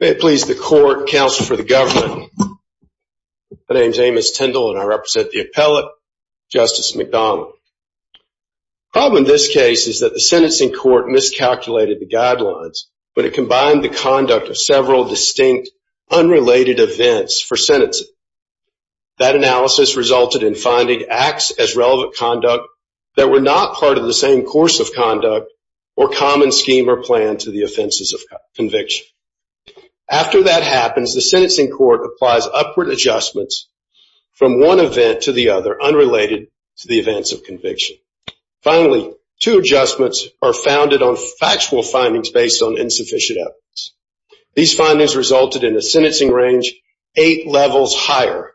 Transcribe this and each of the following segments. May it please the court, counsel for the government, my name is Amos Tindall and I represent the appellate, Justice McDonald. The problem in this case is that the sentencing court miscalculated the guidelines but it combined the conduct of several distinct unrelated events for sentencing. That analysis resulted in finding acts as relevant conduct that were not part of the same course of conduct or common scheme or plan to the offenses of conviction. After that happens, the sentencing court applies upward adjustments from one event to the other unrelated to the events of conviction. Finally, two adjustments are founded on factual findings based on insufficient evidence. These findings resulted in a sentencing range eight levels higher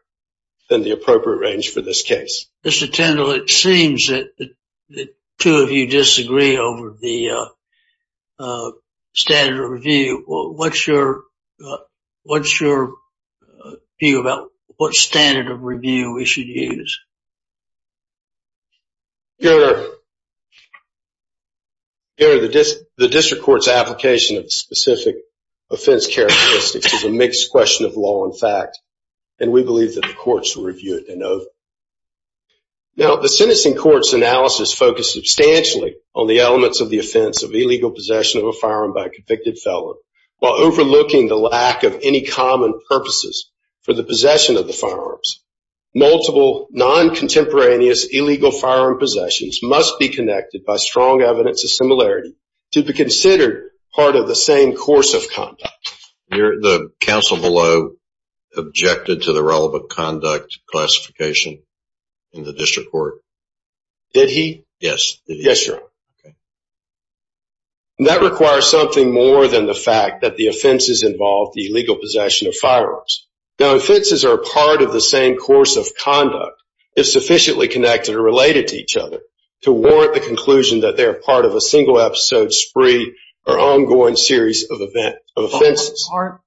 than the appropriate range for this case. Mr. Tindall, it seems that the two of you disagree over the standard of review. What's your view about what standard of review we should use? Governor, the district court's application of specific offense characteristics is a mixed question of law and fact and we believe that the courts will review it. Now the sentencing court's analysis focused substantially on the elements of the offense of illegal possession of a firearm by a convicted felon while overlooking the lack of any common purposes for the possession of the firearms. Multiple non-contemporaneous illegal firearm possessions must be connected by strong evidence of similarity to be considered part of the same course of conduct. That requires something more than the fact that the offenses involve the illegal possession of firearms. Now offenses are part of the same course of conduct if sufficiently connected or related to each other to warrant the conclusion that they are part of a single episode, or ongoing series of offenses. Are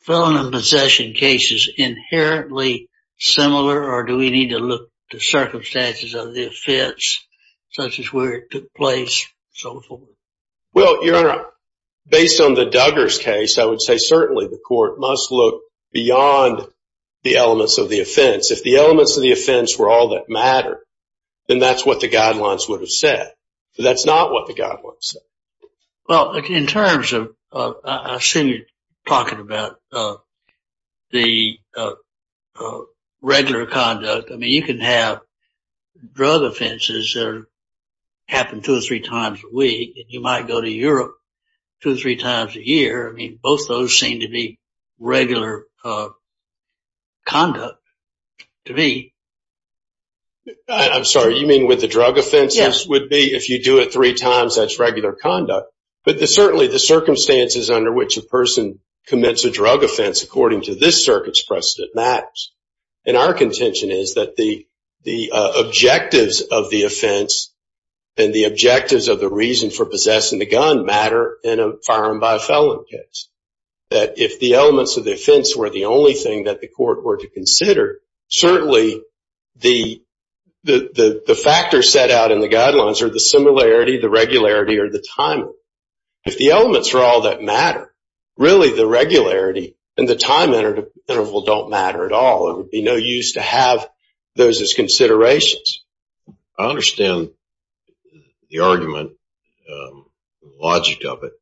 felon and possession cases inherently similar or do we need to look to circumstances of the offense such as where it took place and so forth? Based on the Duggars case, I would say certainly the court must look beyond the elements of the offense. If the elements of the offense were all that matter, then that's what the guidelines would say. But that's not what the guidelines say. Well in terms of, I assume you're talking about the regular conduct. I mean you can have drug offenses that happen two or three times a week and you might go to Europe two or three times a year. I mean both those seem to be regular uh conduct to me. I'm sorry you mean with the drug offenses would be if you do it three times that's regular conduct. But the certainly the circumstances under which a person commits a drug offense according to this circuit's precedent matters. And our contention is that the the objectives of the offense and the objectives of the reason for possessing the gun matter in a felon case. That if the elements of the offense were the only thing that the court were to consider, certainly the the the factors set out in the guidelines are the similarity, the regularity, or the time. If the elements are all that matter, really the regularity and the time interval don't matter at all. It would be no use to have those as considerations. I understand the argument, the logic of it,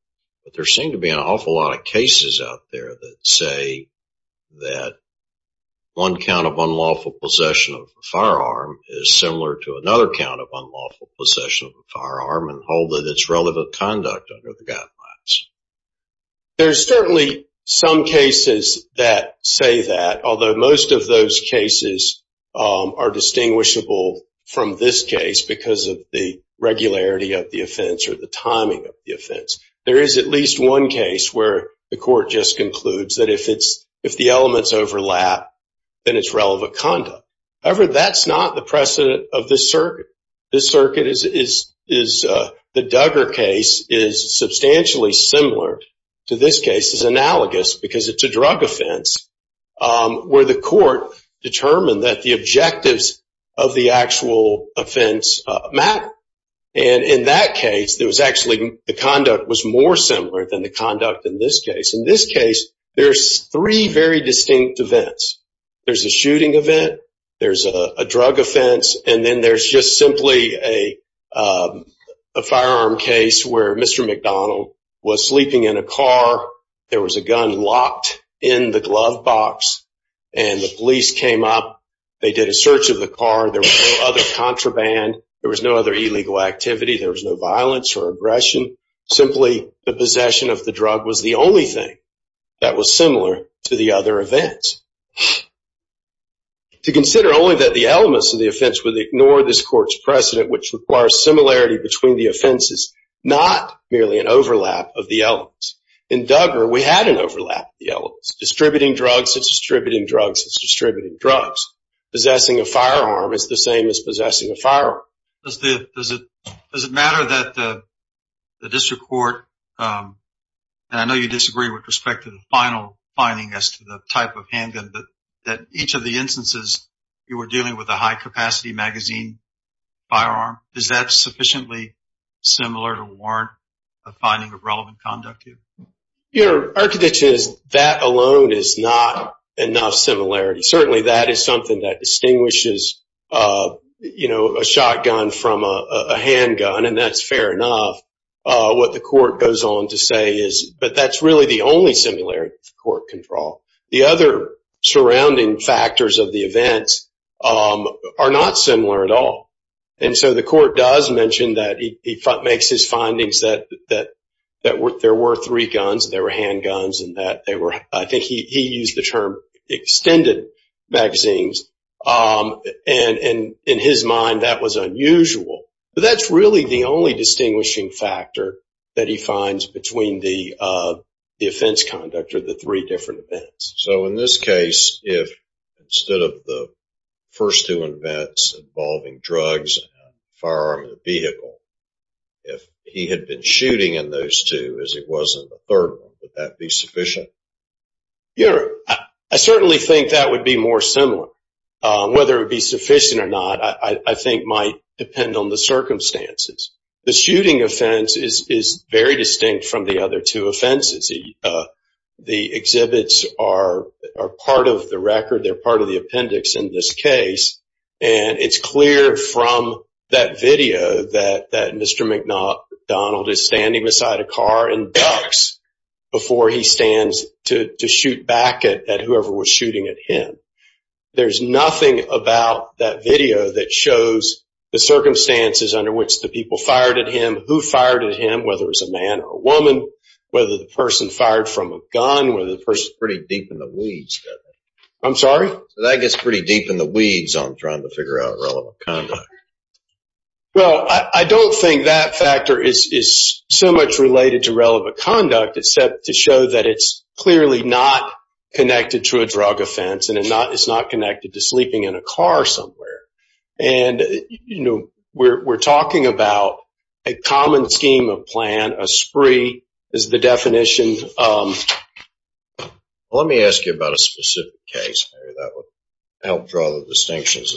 but there seem to be an awful lot of cases out there that say that one count of unlawful possession of a firearm is similar to another count of unlawful possession of a firearm and hold that it's relevant conduct under the guidelines. There's certainly some cases that say that, although most of those cases are distinguishable from this case because of the regularity of the offense or the timing of the offense. There is at least one case where the court just concludes that if it's if the elements overlap then it's relevant conduct. However, that's not the precedent of this circuit. This circuit is is the Duggar case is substantially similar to this case is analogous because it's a drug offense where the court determined that the objectives of the actual offense matter. And in that case, there was actually the conduct was more similar than the conduct in this case. In this case, there's three very distinct events. There's a shooting event, there's a drug offense, and then there's just simply a firearm case where Mr. McDonald was sleeping in a car. There was a gun locked in the glove box and the police came up. They did a search of the car. There was no other contraband. There was no other illegal activity. There was no violence or aggression. Simply, the possession of the drug was the only thing that was similar to the other events. To consider only that the elements of the offense would ignore this court's precedent, which requires similarity between the offenses, not merely an overlap of the elements. In Duggar, we had an overlap of the elements. Distributing drugs, it's distributing drugs, it's distributing drugs. Possessing a firearm is the same as possessing a firearm. Does it does it does it matter that the district court, and I know you disagree with respect to the final finding as to the type of handgun, but that each of the instances you were dealing with a high-capacity magazine firearm, is that sufficiently similar to warrant a finding of relevant conduct here? Your architecture is that alone is not enough similarity. Certainly, that is something that distinguishes a shotgun from a handgun, and that's fair enough. What the court goes on to say is, but that's really the only similarity the court can draw. The other surrounding factors of the events are not similar at all. The court does mention that he makes his findings that there were three guns, there were handguns, and I think he used the term extended magazines. In his mind, that was unusual, but that's really the only distinguishing factor that he finds between the offense conduct or the three different events. So in this case, if instead of the first two events involving drugs, firearm, and vehicle, if he had been shooting in those two as it was in the third one, would that be sufficient? Yeah, I certainly think that would be more similar. Whether it be sufficient or not, I think might depend on the circumstances. The shooting offense is very distinct from the other two offenses. The exhibits are part of the record, they're part of the appendix in this case, and it's clear from that video that Mr. McDonald is standing beside a car and ducks before he stands to shoot back at whoever was shooting at him. There's nothing about that video that shows the circumstances under which the people fired at him, who fired at him, whether it was a man or a woman, whether the person fired from a gun, whether the person pretty deep in the weeds. I'm sorry? That gets pretty deep in the weeds on trying to figure out relevant conduct. Well, I don't think that factor is so much related to relevant conduct except to that it's clearly not connected to a drug offense and it's not connected to sleeping in a car somewhere. We're talking about a common scheme of plan, a spree is the definition. Let me ask you about a specific case that would help draw the distinctions.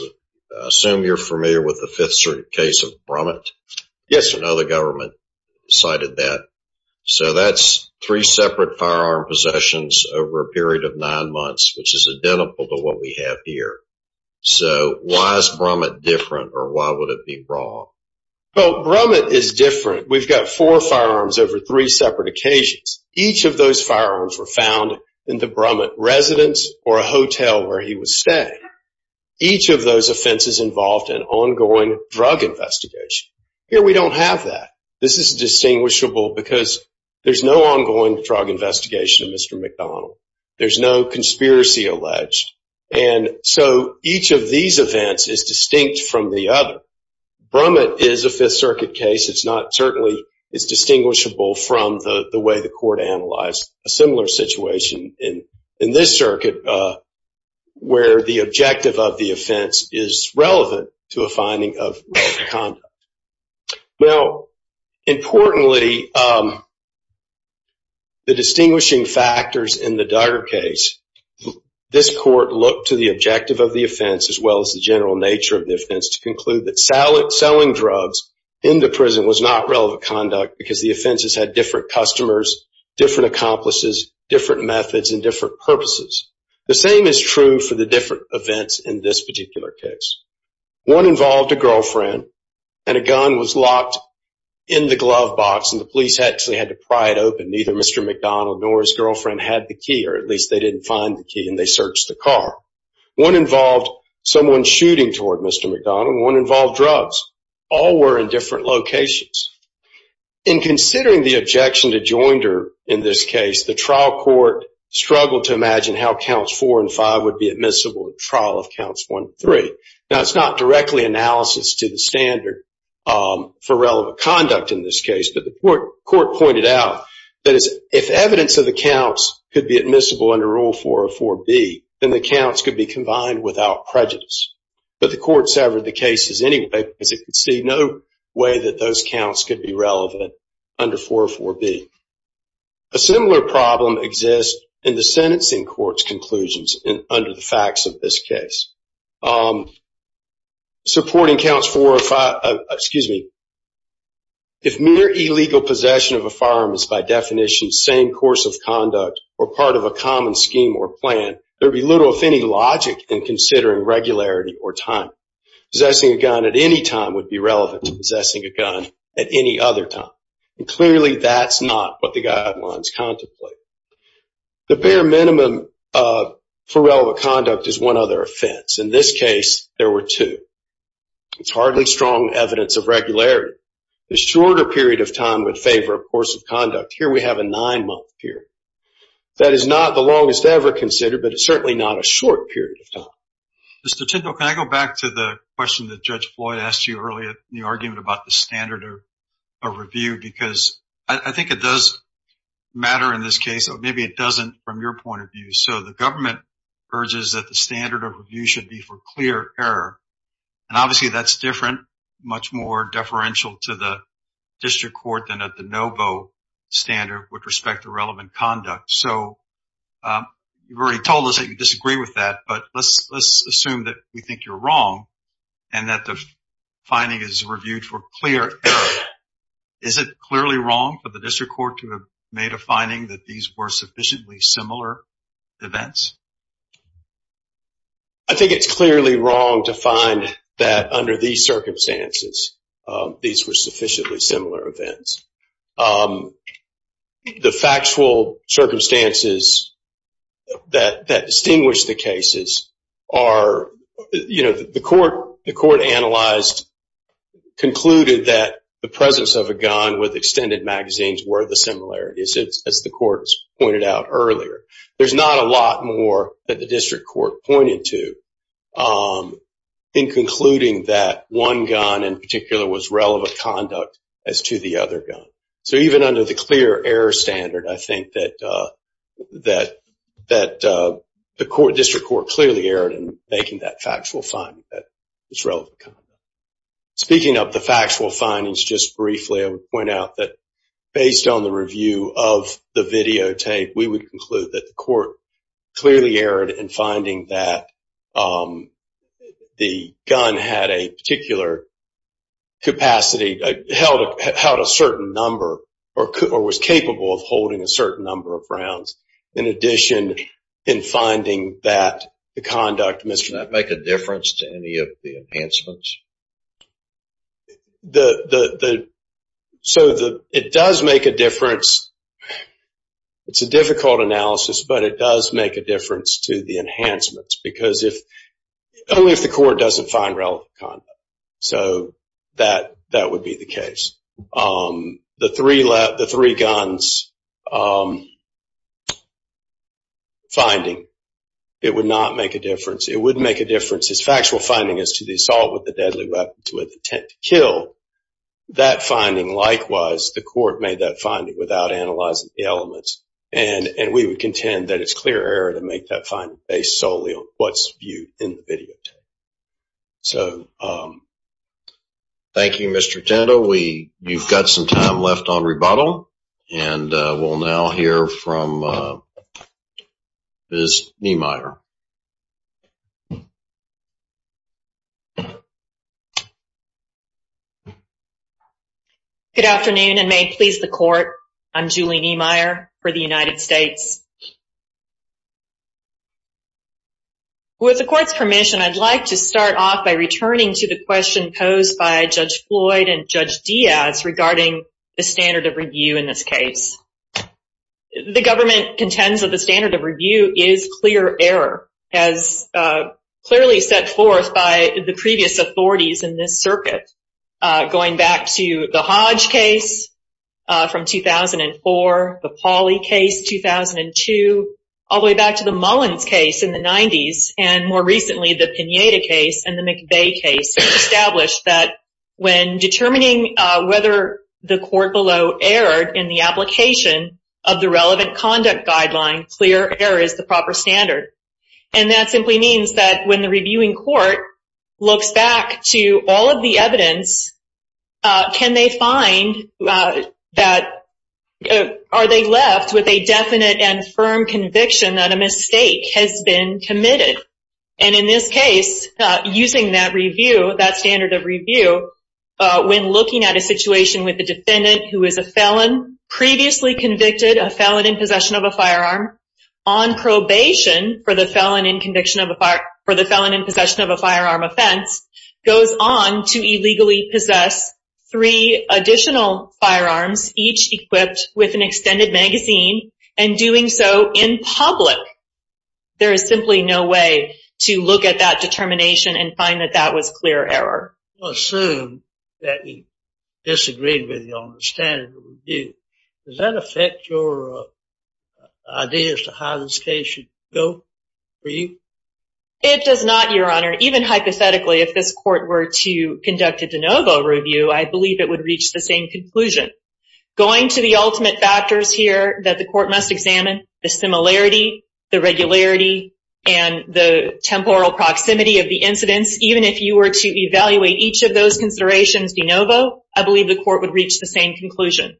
I assume you're familiar with the Fifth Circuit case of Brummett? Yes, sir. I know the government cited that. So, that's three separate firearm possessions over a period of nine months, which is identical to what we have here. So, why is Brummett different or why would it be wrong? Well, Brummett is different. We've got four firearms over three separate occasions. Each of those firearms were found in the Brummett residence or a hotel where he was staying. Each of those offenses involved an ongoing drug investigation. Here, we don't have that. This is distinguishable because there's no ongoing drug investigation of Mr. McDonald. There's no conspiracy alleged. So, each of these events is distinct from the other. Brummett is a Fifth Circuit case. It's distinguishable from the way the court analyzed a similar situation in this circuit where the distinguishing factors in the Duggar case, this court looked to the objective of the offense as well as the general nature of the offense to conclude that selling drugs in the prison was not relevant conduct because the offenses had different customers, different accomplices, different methods, and different purposes. The same is true for the different events in this particular case. One involved a girlfriend and a gun was locked in the glove box and the police had to pry it open. Neither Mr. McDonald nor his girlfriend had the key or at least they didn't find the key and they searched the car. One involved someone shooting toward Mr. McDonald. One involved drugs. All were in different locations. In considering the objection to Joinder in this case, the trial court struggled to imagine how counts four and five would be admissible in trial of counts one and three. Now, it's not directly analysis to the standard for relevant conduct in this case, but the court pointed out that if evidence of the counts could be admissible under rule 404B, then the counts could be combined without prejudice. But the court severed the cases anyway because it could see no way that those counts could be relevant under 404B. A similar problem exists in the sentencing court's conclusions under the facts of this case. Supporting counts four or five, excuse me, if mere illegal possession of a firearm is by definition same course of conduct or part of a common scheme or plan, there'd be little if any logic in considering regularity or time. Possessing a gun at any time would be relevant to possessing a gun at any other time. Clearly that's not what the guidelines contemplate. The bare minimum for relevant conduct is one other offense. In this case, there were two. It's hardly strong evidence of regularity. The shorter period of time would favor a course of conduct. Here we have a nine-month period. That is not the longest ever considered, but it's certainly not a short period of time. Mr. Tindall, can I go back to the question that Judge Floyd asked you earlier in the argument about the standard of review? Because I think it does in this case, or maybe it doesn't from your point of view. The government urges that the standard of review should be for clear error. Obviously, that's different, much more deferential to the district court than at the NOBO standard with respect to relevant conduct. You've already told us that you disagree with that, but let's assume that we think you're wrong and that the finding is reviewed for clear error. Is it clearly wrong for the district court to have made a finding that these were sufficiently similar events? I think it's clearly wrong to find that under these circumstances, these were sufficiently similar events. The factual circumstances that distinguish the cases are, you know, the court analyzed, concluded that the presence of a gun with extended magazines were the similarities, as the court has pointed out earlier. There's not a lot more that the district court pointed to in concluding that one gun in particular was relevant conduct as to the other gun. So even under the clear error standard, I think that the district court clearly erred in making that factual finding that it's relevant conduct. Speaking of the review of the videotape, we would conclude that the court clearly erred in finding that the gun had a particular capacity, held a certain number, or was capable of holding a certain number of rounds. In addition, in finding that the conduct... Does that make a difference to any of the enhancements? It does make a difference. It's a difficult analysis, but it does make a difference to the enhancements because only if the court doesn't find relevant conduct. So that would be the case. The three guns finding, it would not make a difference. It wouldn't make a difference. Factual finding is to the assault with the deadly weapons with intent to kill. That finding, likewise, the court made that finding without analyzing the elements. And we would contend that it's clear error to make that finding based solely on what's viewed in the videotape. Thank you, Mr. Tinto. You've got some time left on rebuttal, and we'll now hear from Ms. Niemeyer. Good afternoon, and may it please the court. I'm Julie Niemeyer for the United States. With the court's permission, I'd like to start off by returning to the question posed by the standard of review in this case. The government contends that the standard of review is clear error, as clearly set forth by the previous authorities in this circuit, going back to the Hodge case from 2004, the Pauli case 2002, all the way back to the Mullins case in the 90s, and more recently, the Pineda case and the McVeigh case established that when determining whether the court below erred in the application of the relevant conduct guideline, clear error is the proper standard. And that simply means that when the reviewing court looks back to all of the evidence, can they find that, are they left with a definite and firm conviction that a mistake has been committed? And in this case, using that review, that standard of review, when looking at a situation with a defendant who is a felon, previously convicted, a felon in possession of a firearm, on probation for the felon in possession of a firearm offense, goes on to illegally possess three additional firearms, each equipped with an extended magazine, and doing so in public, there is simply no way to look at that determination and find that that was a clear error. I assume that you disagreed with me on the standard of review. Does that affect your ideas to how this case should go for you? It does not, your honor. Even hypothetically, if this court were to conduct a de novo review, I believe it would reach the same conclusion. Going to the ultimate factors here that the court must examine, the similarity, the regularity, and the temporal proximity of the incidents, even if you were to evaluate each of those considerations de novo, I believe the court would reach the same conclusion.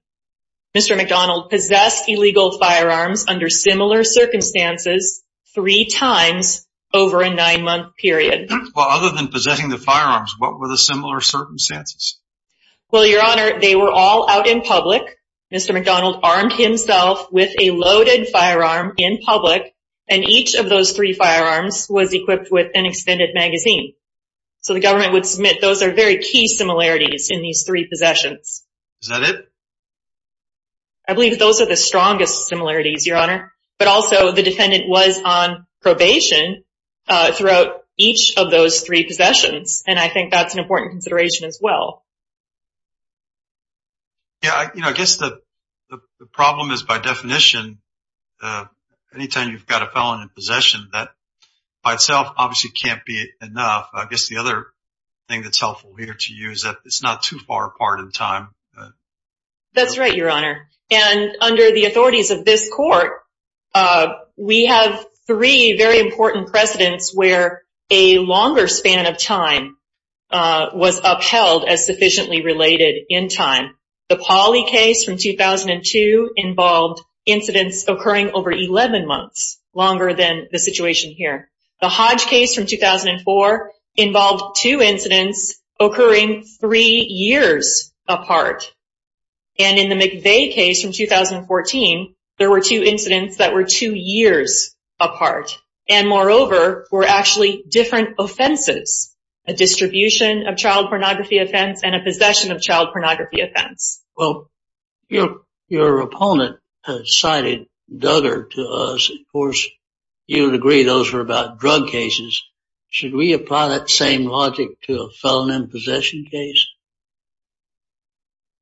Mr. McDonald possessed illegal firearms under similar circumstances three times over a nine-month period. Well, other than possessing the firearms, what were the similar circumstances? Well, your honor, they were all out in public. Mr. McDonald armed himself with a loaded firearm in public, and each of those three firearms was equipped with an extended magazine. So the government would submit those are very key similarities in these three possessions. Is that it? I believe those are the strongest similarities, your honor, but also the defendant was on probation throughout each of those three possessions, and I think that's an important consideration as well. Yeah, you know, I guess the problem is, by definition, anytime you've got a felon in possession, that by itself obviously can't be enough. I guess the other thing that's helpful here to you is that it's not too far apart in time. That's right, your honor. And under the authorities of this court, we have three very important precedents where a longer span of time was upheld as sufficient related in time. The Pauly case from 2002 involved incidents occurring over 11 months, longer than the situation here. The Hodge case from 2004 involved two incidents occurring three years apart. And in the McVeigh case from 2014, there were two incidents that were two years apart. And moreover, were actually different offenses, a distribution of child pornography offense and a possession of child pornography offense. Well, your opponent cited Duggar to us. Of course, you would agree those were about drug cases. Should we apply that same logic to a felon in possession case?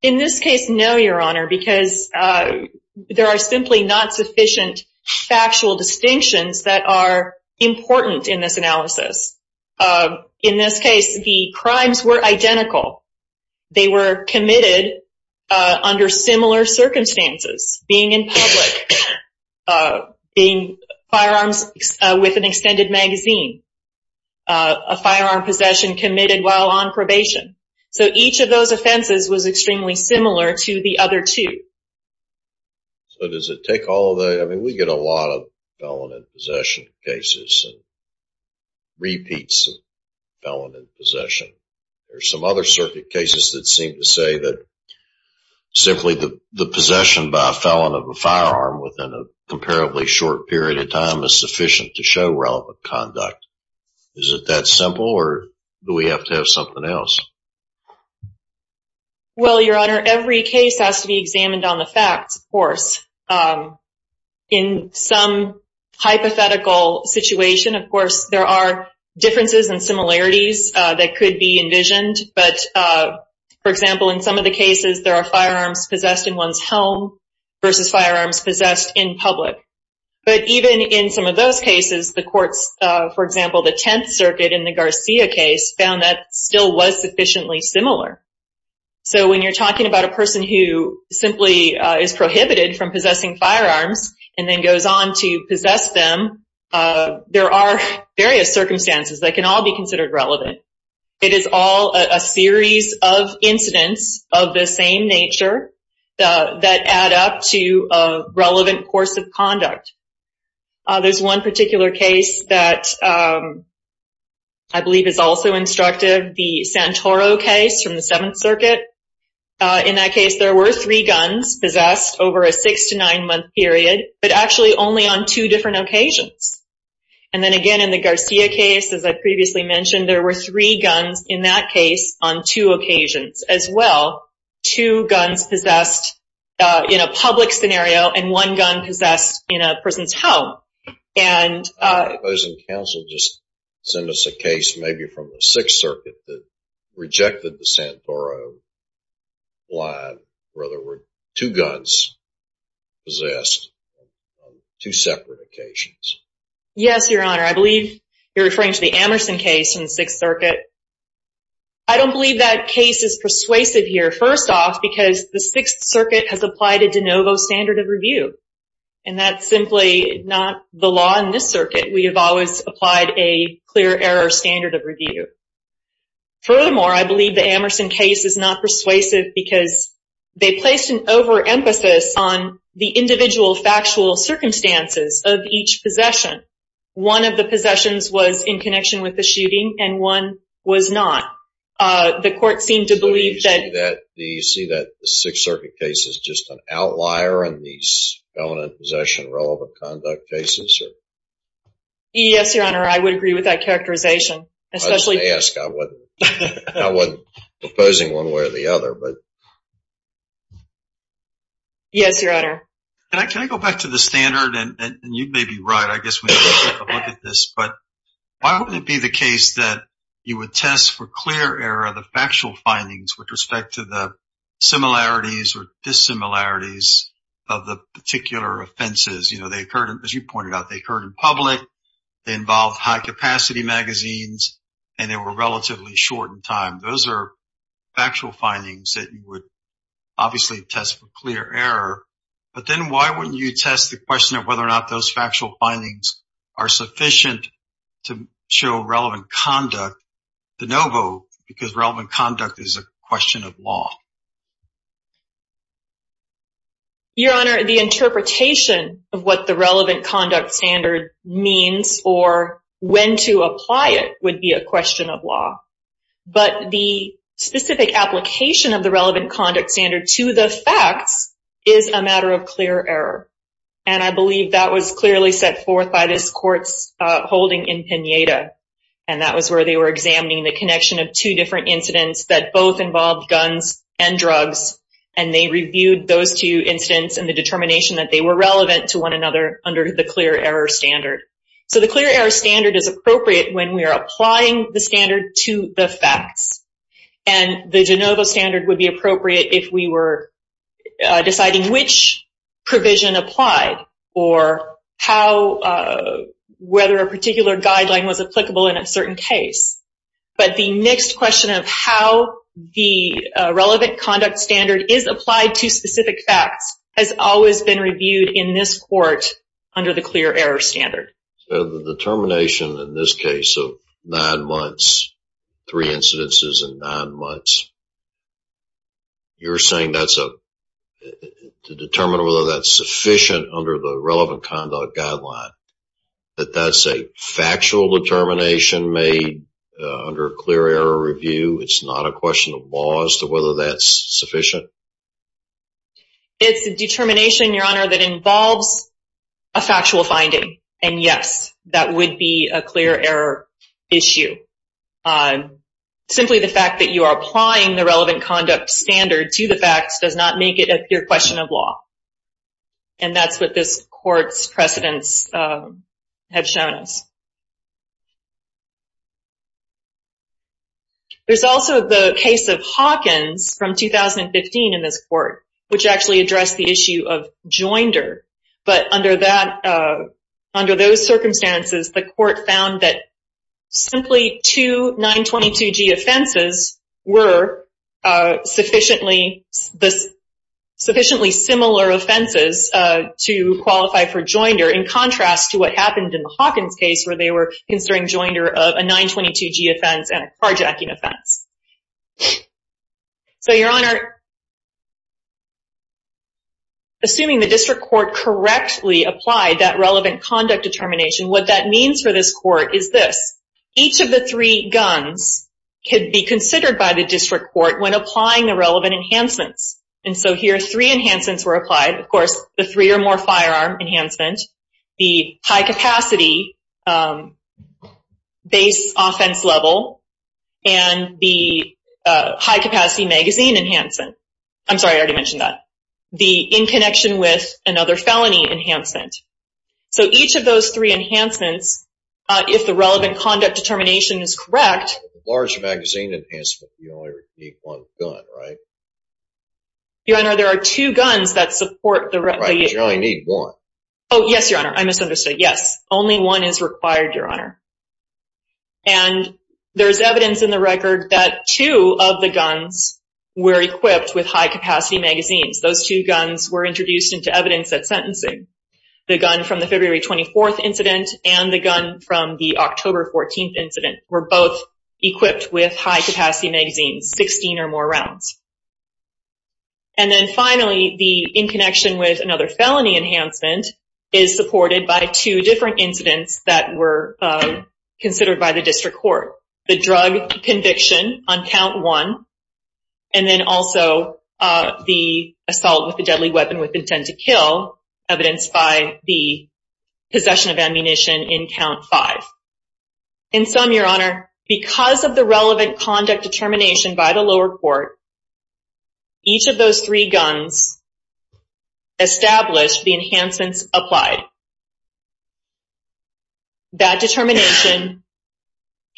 In this case, no, your honor, because there are simply not sufficient factual distinctions that are important in this analysis. In this case, the crimes were identical. They were committed under similar circumstances, being in public, being firearms with an extended magazine, a firearm possession committed while on probation. So each of those offenses was extremely similar to the other two. So does it take all of that? I mean, we get a lot of felon in possession cases and repeats of felon in possession. There's some other circuit cases that seem to say that simply the possession by a felon of a firearm within a comparably short period of time is sufficient to show relevant conduct. Is it that simple or do we have to have something else? Well, your honor, every case has to be examined on the facts, of course. In some hypothetical situation, of course, there are differences and similarities that could be envisioned. But, for example, in some of the cases, there are firearms possessed in one's home versus firearms possessed in public. But even in some of those cases, the courts, for example, the Tenth Circuit in the Garcia case found that still was sufficiently similar. So when you're talking about a person who simply is prohibited from possessing firearms and then goes on to possess them, there are various circumstances that can all be considered relevant. It is all a series of incidents of the same nature that add up to a relevant course of I believe is also instructive the Santoro case from the Seventh Circuit. In that case, there were three guns possessed over a six to nine month period, but actually only on two different occasions. And then again, in the Garcia case, as I previously mentioned, there were three guns in that case on two occasions as well. Two guns possessed in a Send us a case maybe from the Sixth Circuit that rejected the Santoro line where there were two guns possessed on two separate occasions. Yes, Your Honor. I believe you're referring to the Amerson case from the Sixth Circuit. I don't believe that case is persuasive here, first off, because the Sixth Circuit has applied a de novo standard of review. And that's simply not the law in this circuit. We have always applied a clear error standard of review. Furthermore, I believe the Amerson case is not persuasive because they placed an overemphasis on the individual factual circumstances of each possession. One of the possessions was in connection with the shooting and one was not. The court seemed to believe that... Do you see that the Sixth Circuit case is just an outlier in these dominant possession relevant conduct cases? Yes, Your Honor. I would agree with that characterization. I was going to ask. I wasn't proposing one way or the other. Yes, Your Honor. Can I go back to the standard? And you may be right. I guess we need to take a look at this. But why would it be the case that you would test for clear error of the factual findings with respect to the similarities or dissimilarities of the particular offenses? As you pointed out, they occurred in public, they involved high-capacity magazines, and they were relatively short in time. Those are factual findings that you would obviously test for clear error. But then why wouldn't you test the question of whether or not those factual findings are question of law? Your Honor, the interpretation of what the relevant conduct standard means or when to apply it would be a question of law. But the specific application of the relevant conduct standard to the facts is a matter of clear error. And I believe that was clearly set forth by this court's holding in Pineda. And that was where they were examining the guns and drugs and they reviewed those two incidents and the determination that they were relevant to one another under the clear error standard. So the clear error standard is appropriate when we are applying the standard to the facts. And the de novo standard would be appropriate if we were deciding which provision applied or whether a particular guideline was relevant. The fact that the relevant conduct standard is applied to specific facts has always been reviewed in this court under the clear error standard. So the determination in this case of nine months, three incidences in nine months, you're saying to determine whether that's sufficient under the relevant conduct guideline, that that's a factual determination made under a clear error review? It's not a question of law as to whether that's sufficient? It's a determination, Your Honor, that involves a factual finding. And yes, that would be a clear error issue. Simply the fact that you are applying the relevant conduct standard to the facts does not make it a pure question of law. And that's what this court's precedents have shown us. There's also the case of Hawkins from 2015 in this court, which actually addressed the issue of joinder. But under those circumstances, the court found that simply two 922G offenses were sufficiently similar offenses to qualify for joinder in contrast to what happened in the Hawkins case where they were considering joinder of a 922G offense and a carjacking offense. So, Your Honor, assuming the district court correctly applied that relevant conduct determination, what that means for this court is this. Each of the three guns could be considered by the district court when applying the relevant enhancements. And so here, three enhancements were applied. Of course, the three or more firearm enhancement, the high-capacity base offense level, and the high-capacity magazine enhancement. I'm sorry, I already mentioned that. The in connection with another felony enhancement. So each of those three enhancements, if the relevant conduct determination is correct... Large magazine enhancement, you only need one gun, right? Your Honor, there are two guns that support the... Right, you only need one. Oh, yes, Your Honor. I misunderstood. Yes, only one is required, Your Honor. And there's evidence in the record that two of the guns were equipped with high-capacity magazines. Those two guns were introduced into evidence at sentencing. The gun from the February 24th incident and the gun from the October 14th incident were both equipped with high-capacity magazines, 16 or more rounds. And then finally, the in connection with another felony enhancement is supported by two different incidents that were considered by the district court. The drug conviction on count one, and then also the assault with a deadly weapon with intent to kill, evidenced by the possession of ammunition in count five. In sum, Your Honor, because of the relevant conduct determination by the lower court, each of those three guns established the enhancements applied. That determination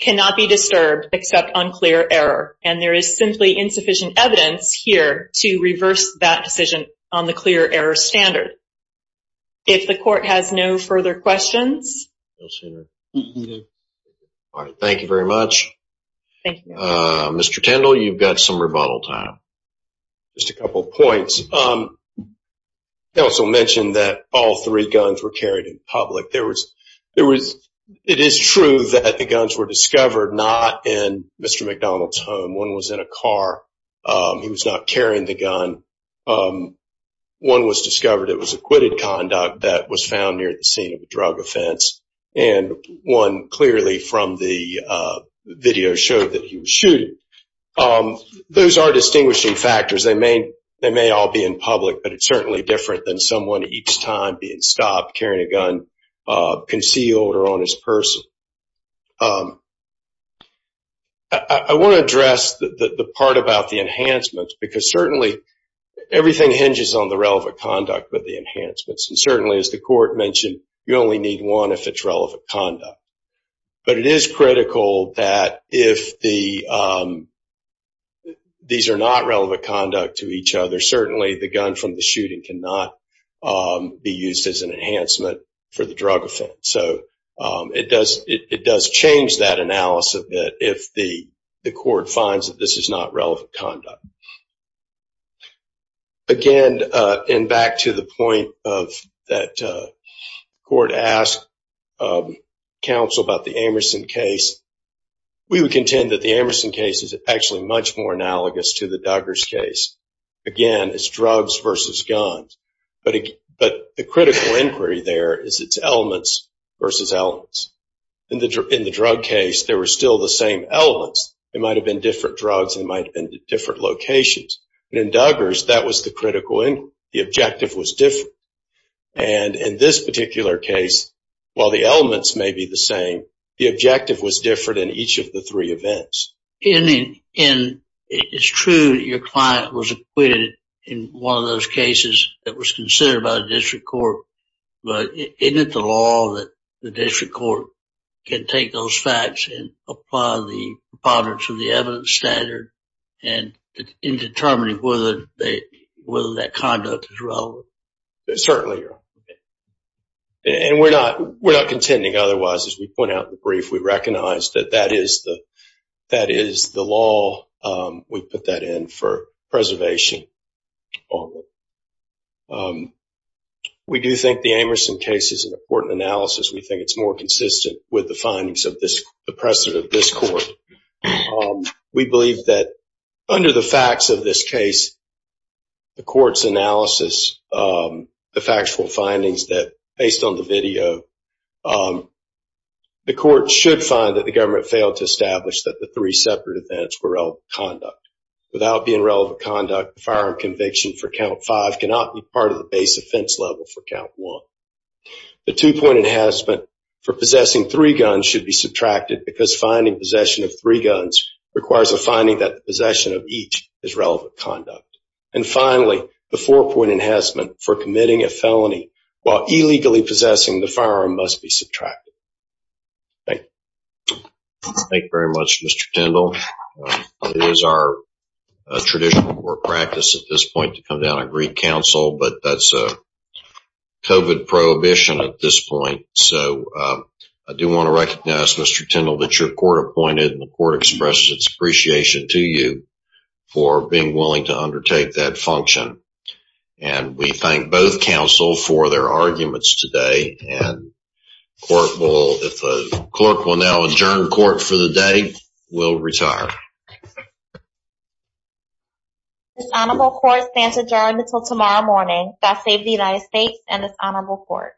cannot be disturbed except unclear error. And there is simply insufficient evidence here to reverse that decision on the clear error standard. If the court has no further questions. All right, thank you very much. Mr. Tindall, you've got some rebuttal time. Just a couple of points. I also mentioned that all three guns were carried in public. It is true that the guns were discovered not in Mr. McDonald's home. One was in a car. He was not carrying the gun. One was discovered. It was acquitted conduct that was found near the drug offense. And one clearly from the video showed that he was shooting. Those are distinguishing factors. They may all be in public, but it's certainly different than someone each time being stopped carrying a gun concealed or on his person. I want to address the part about the enhancements because certainly everything hinges on the relevant conduct with the enhancements. Certainly, as the court mentioned, you only need one if it's relevant conduct. But it is critical that if these are not relevant conduct to each other, certainly the gun from the shooting cannot be used as an enhancement for the drug offense. It does change that analysis if the court finds that this is not relevant conduct. Again, and back to the point that the court asked counsel about the Amerson case, we would contend that the Amerson case is actually much more analogous to the Duggars case. Again, it's drugs versus guns. But the critical inquiry there is its elements versus elements. In the drug case, there were still the same elements. It might have been different drugs and it might have been different locations. But in Duggars, that was the critical inquiry. The objective was different. And in this particular case, while the elements may be the same, the objective was different in each of the three events. And it's true that your client was acquitted in one of those cases that was considered by the district court can take those facts and apply the proponents of the evidence standard and in determining whether that conduct is relevant. Certainly. And we're not contending otherwise. As we point out in the brief, we recognize that that is the law. We put that in for preservation. All right. We do think the Amerson case is an important analysis. We think it's more consistent with the findings of this, the precedent of this court. We believe that under the facts of this case, the court's analysis, the factual findings that based on the video, the court should find that the government failed to establish that the three separate events were relevant conduct. Without being relevant conduct, the firearm conviction for count five cannot be part of the base offense level for count one. The two point enhancement for possessing three guns should be subtracted because finding possession of three guns requires a finding that the possession of each is relevant conduct. And finally, the four point enhancement for committing a felony while illegally possessing the firearm must be subtracted. Thank you. Thank you very much, Mr. Tindall. It is our tradition or practice at this point to come down and greet counsel, but that's a COVID prohibition at this point. So I do want to recognize Mr. Tindall that your court appointed and the court expresses its appreciation to you for being willing to undertake that function. And we thank both counsel for their arguments today. And the court will now adjourn court for the day. We'll retire. This honorable court stands adjourned until tomorrow morning. God save the United States and this honorable court.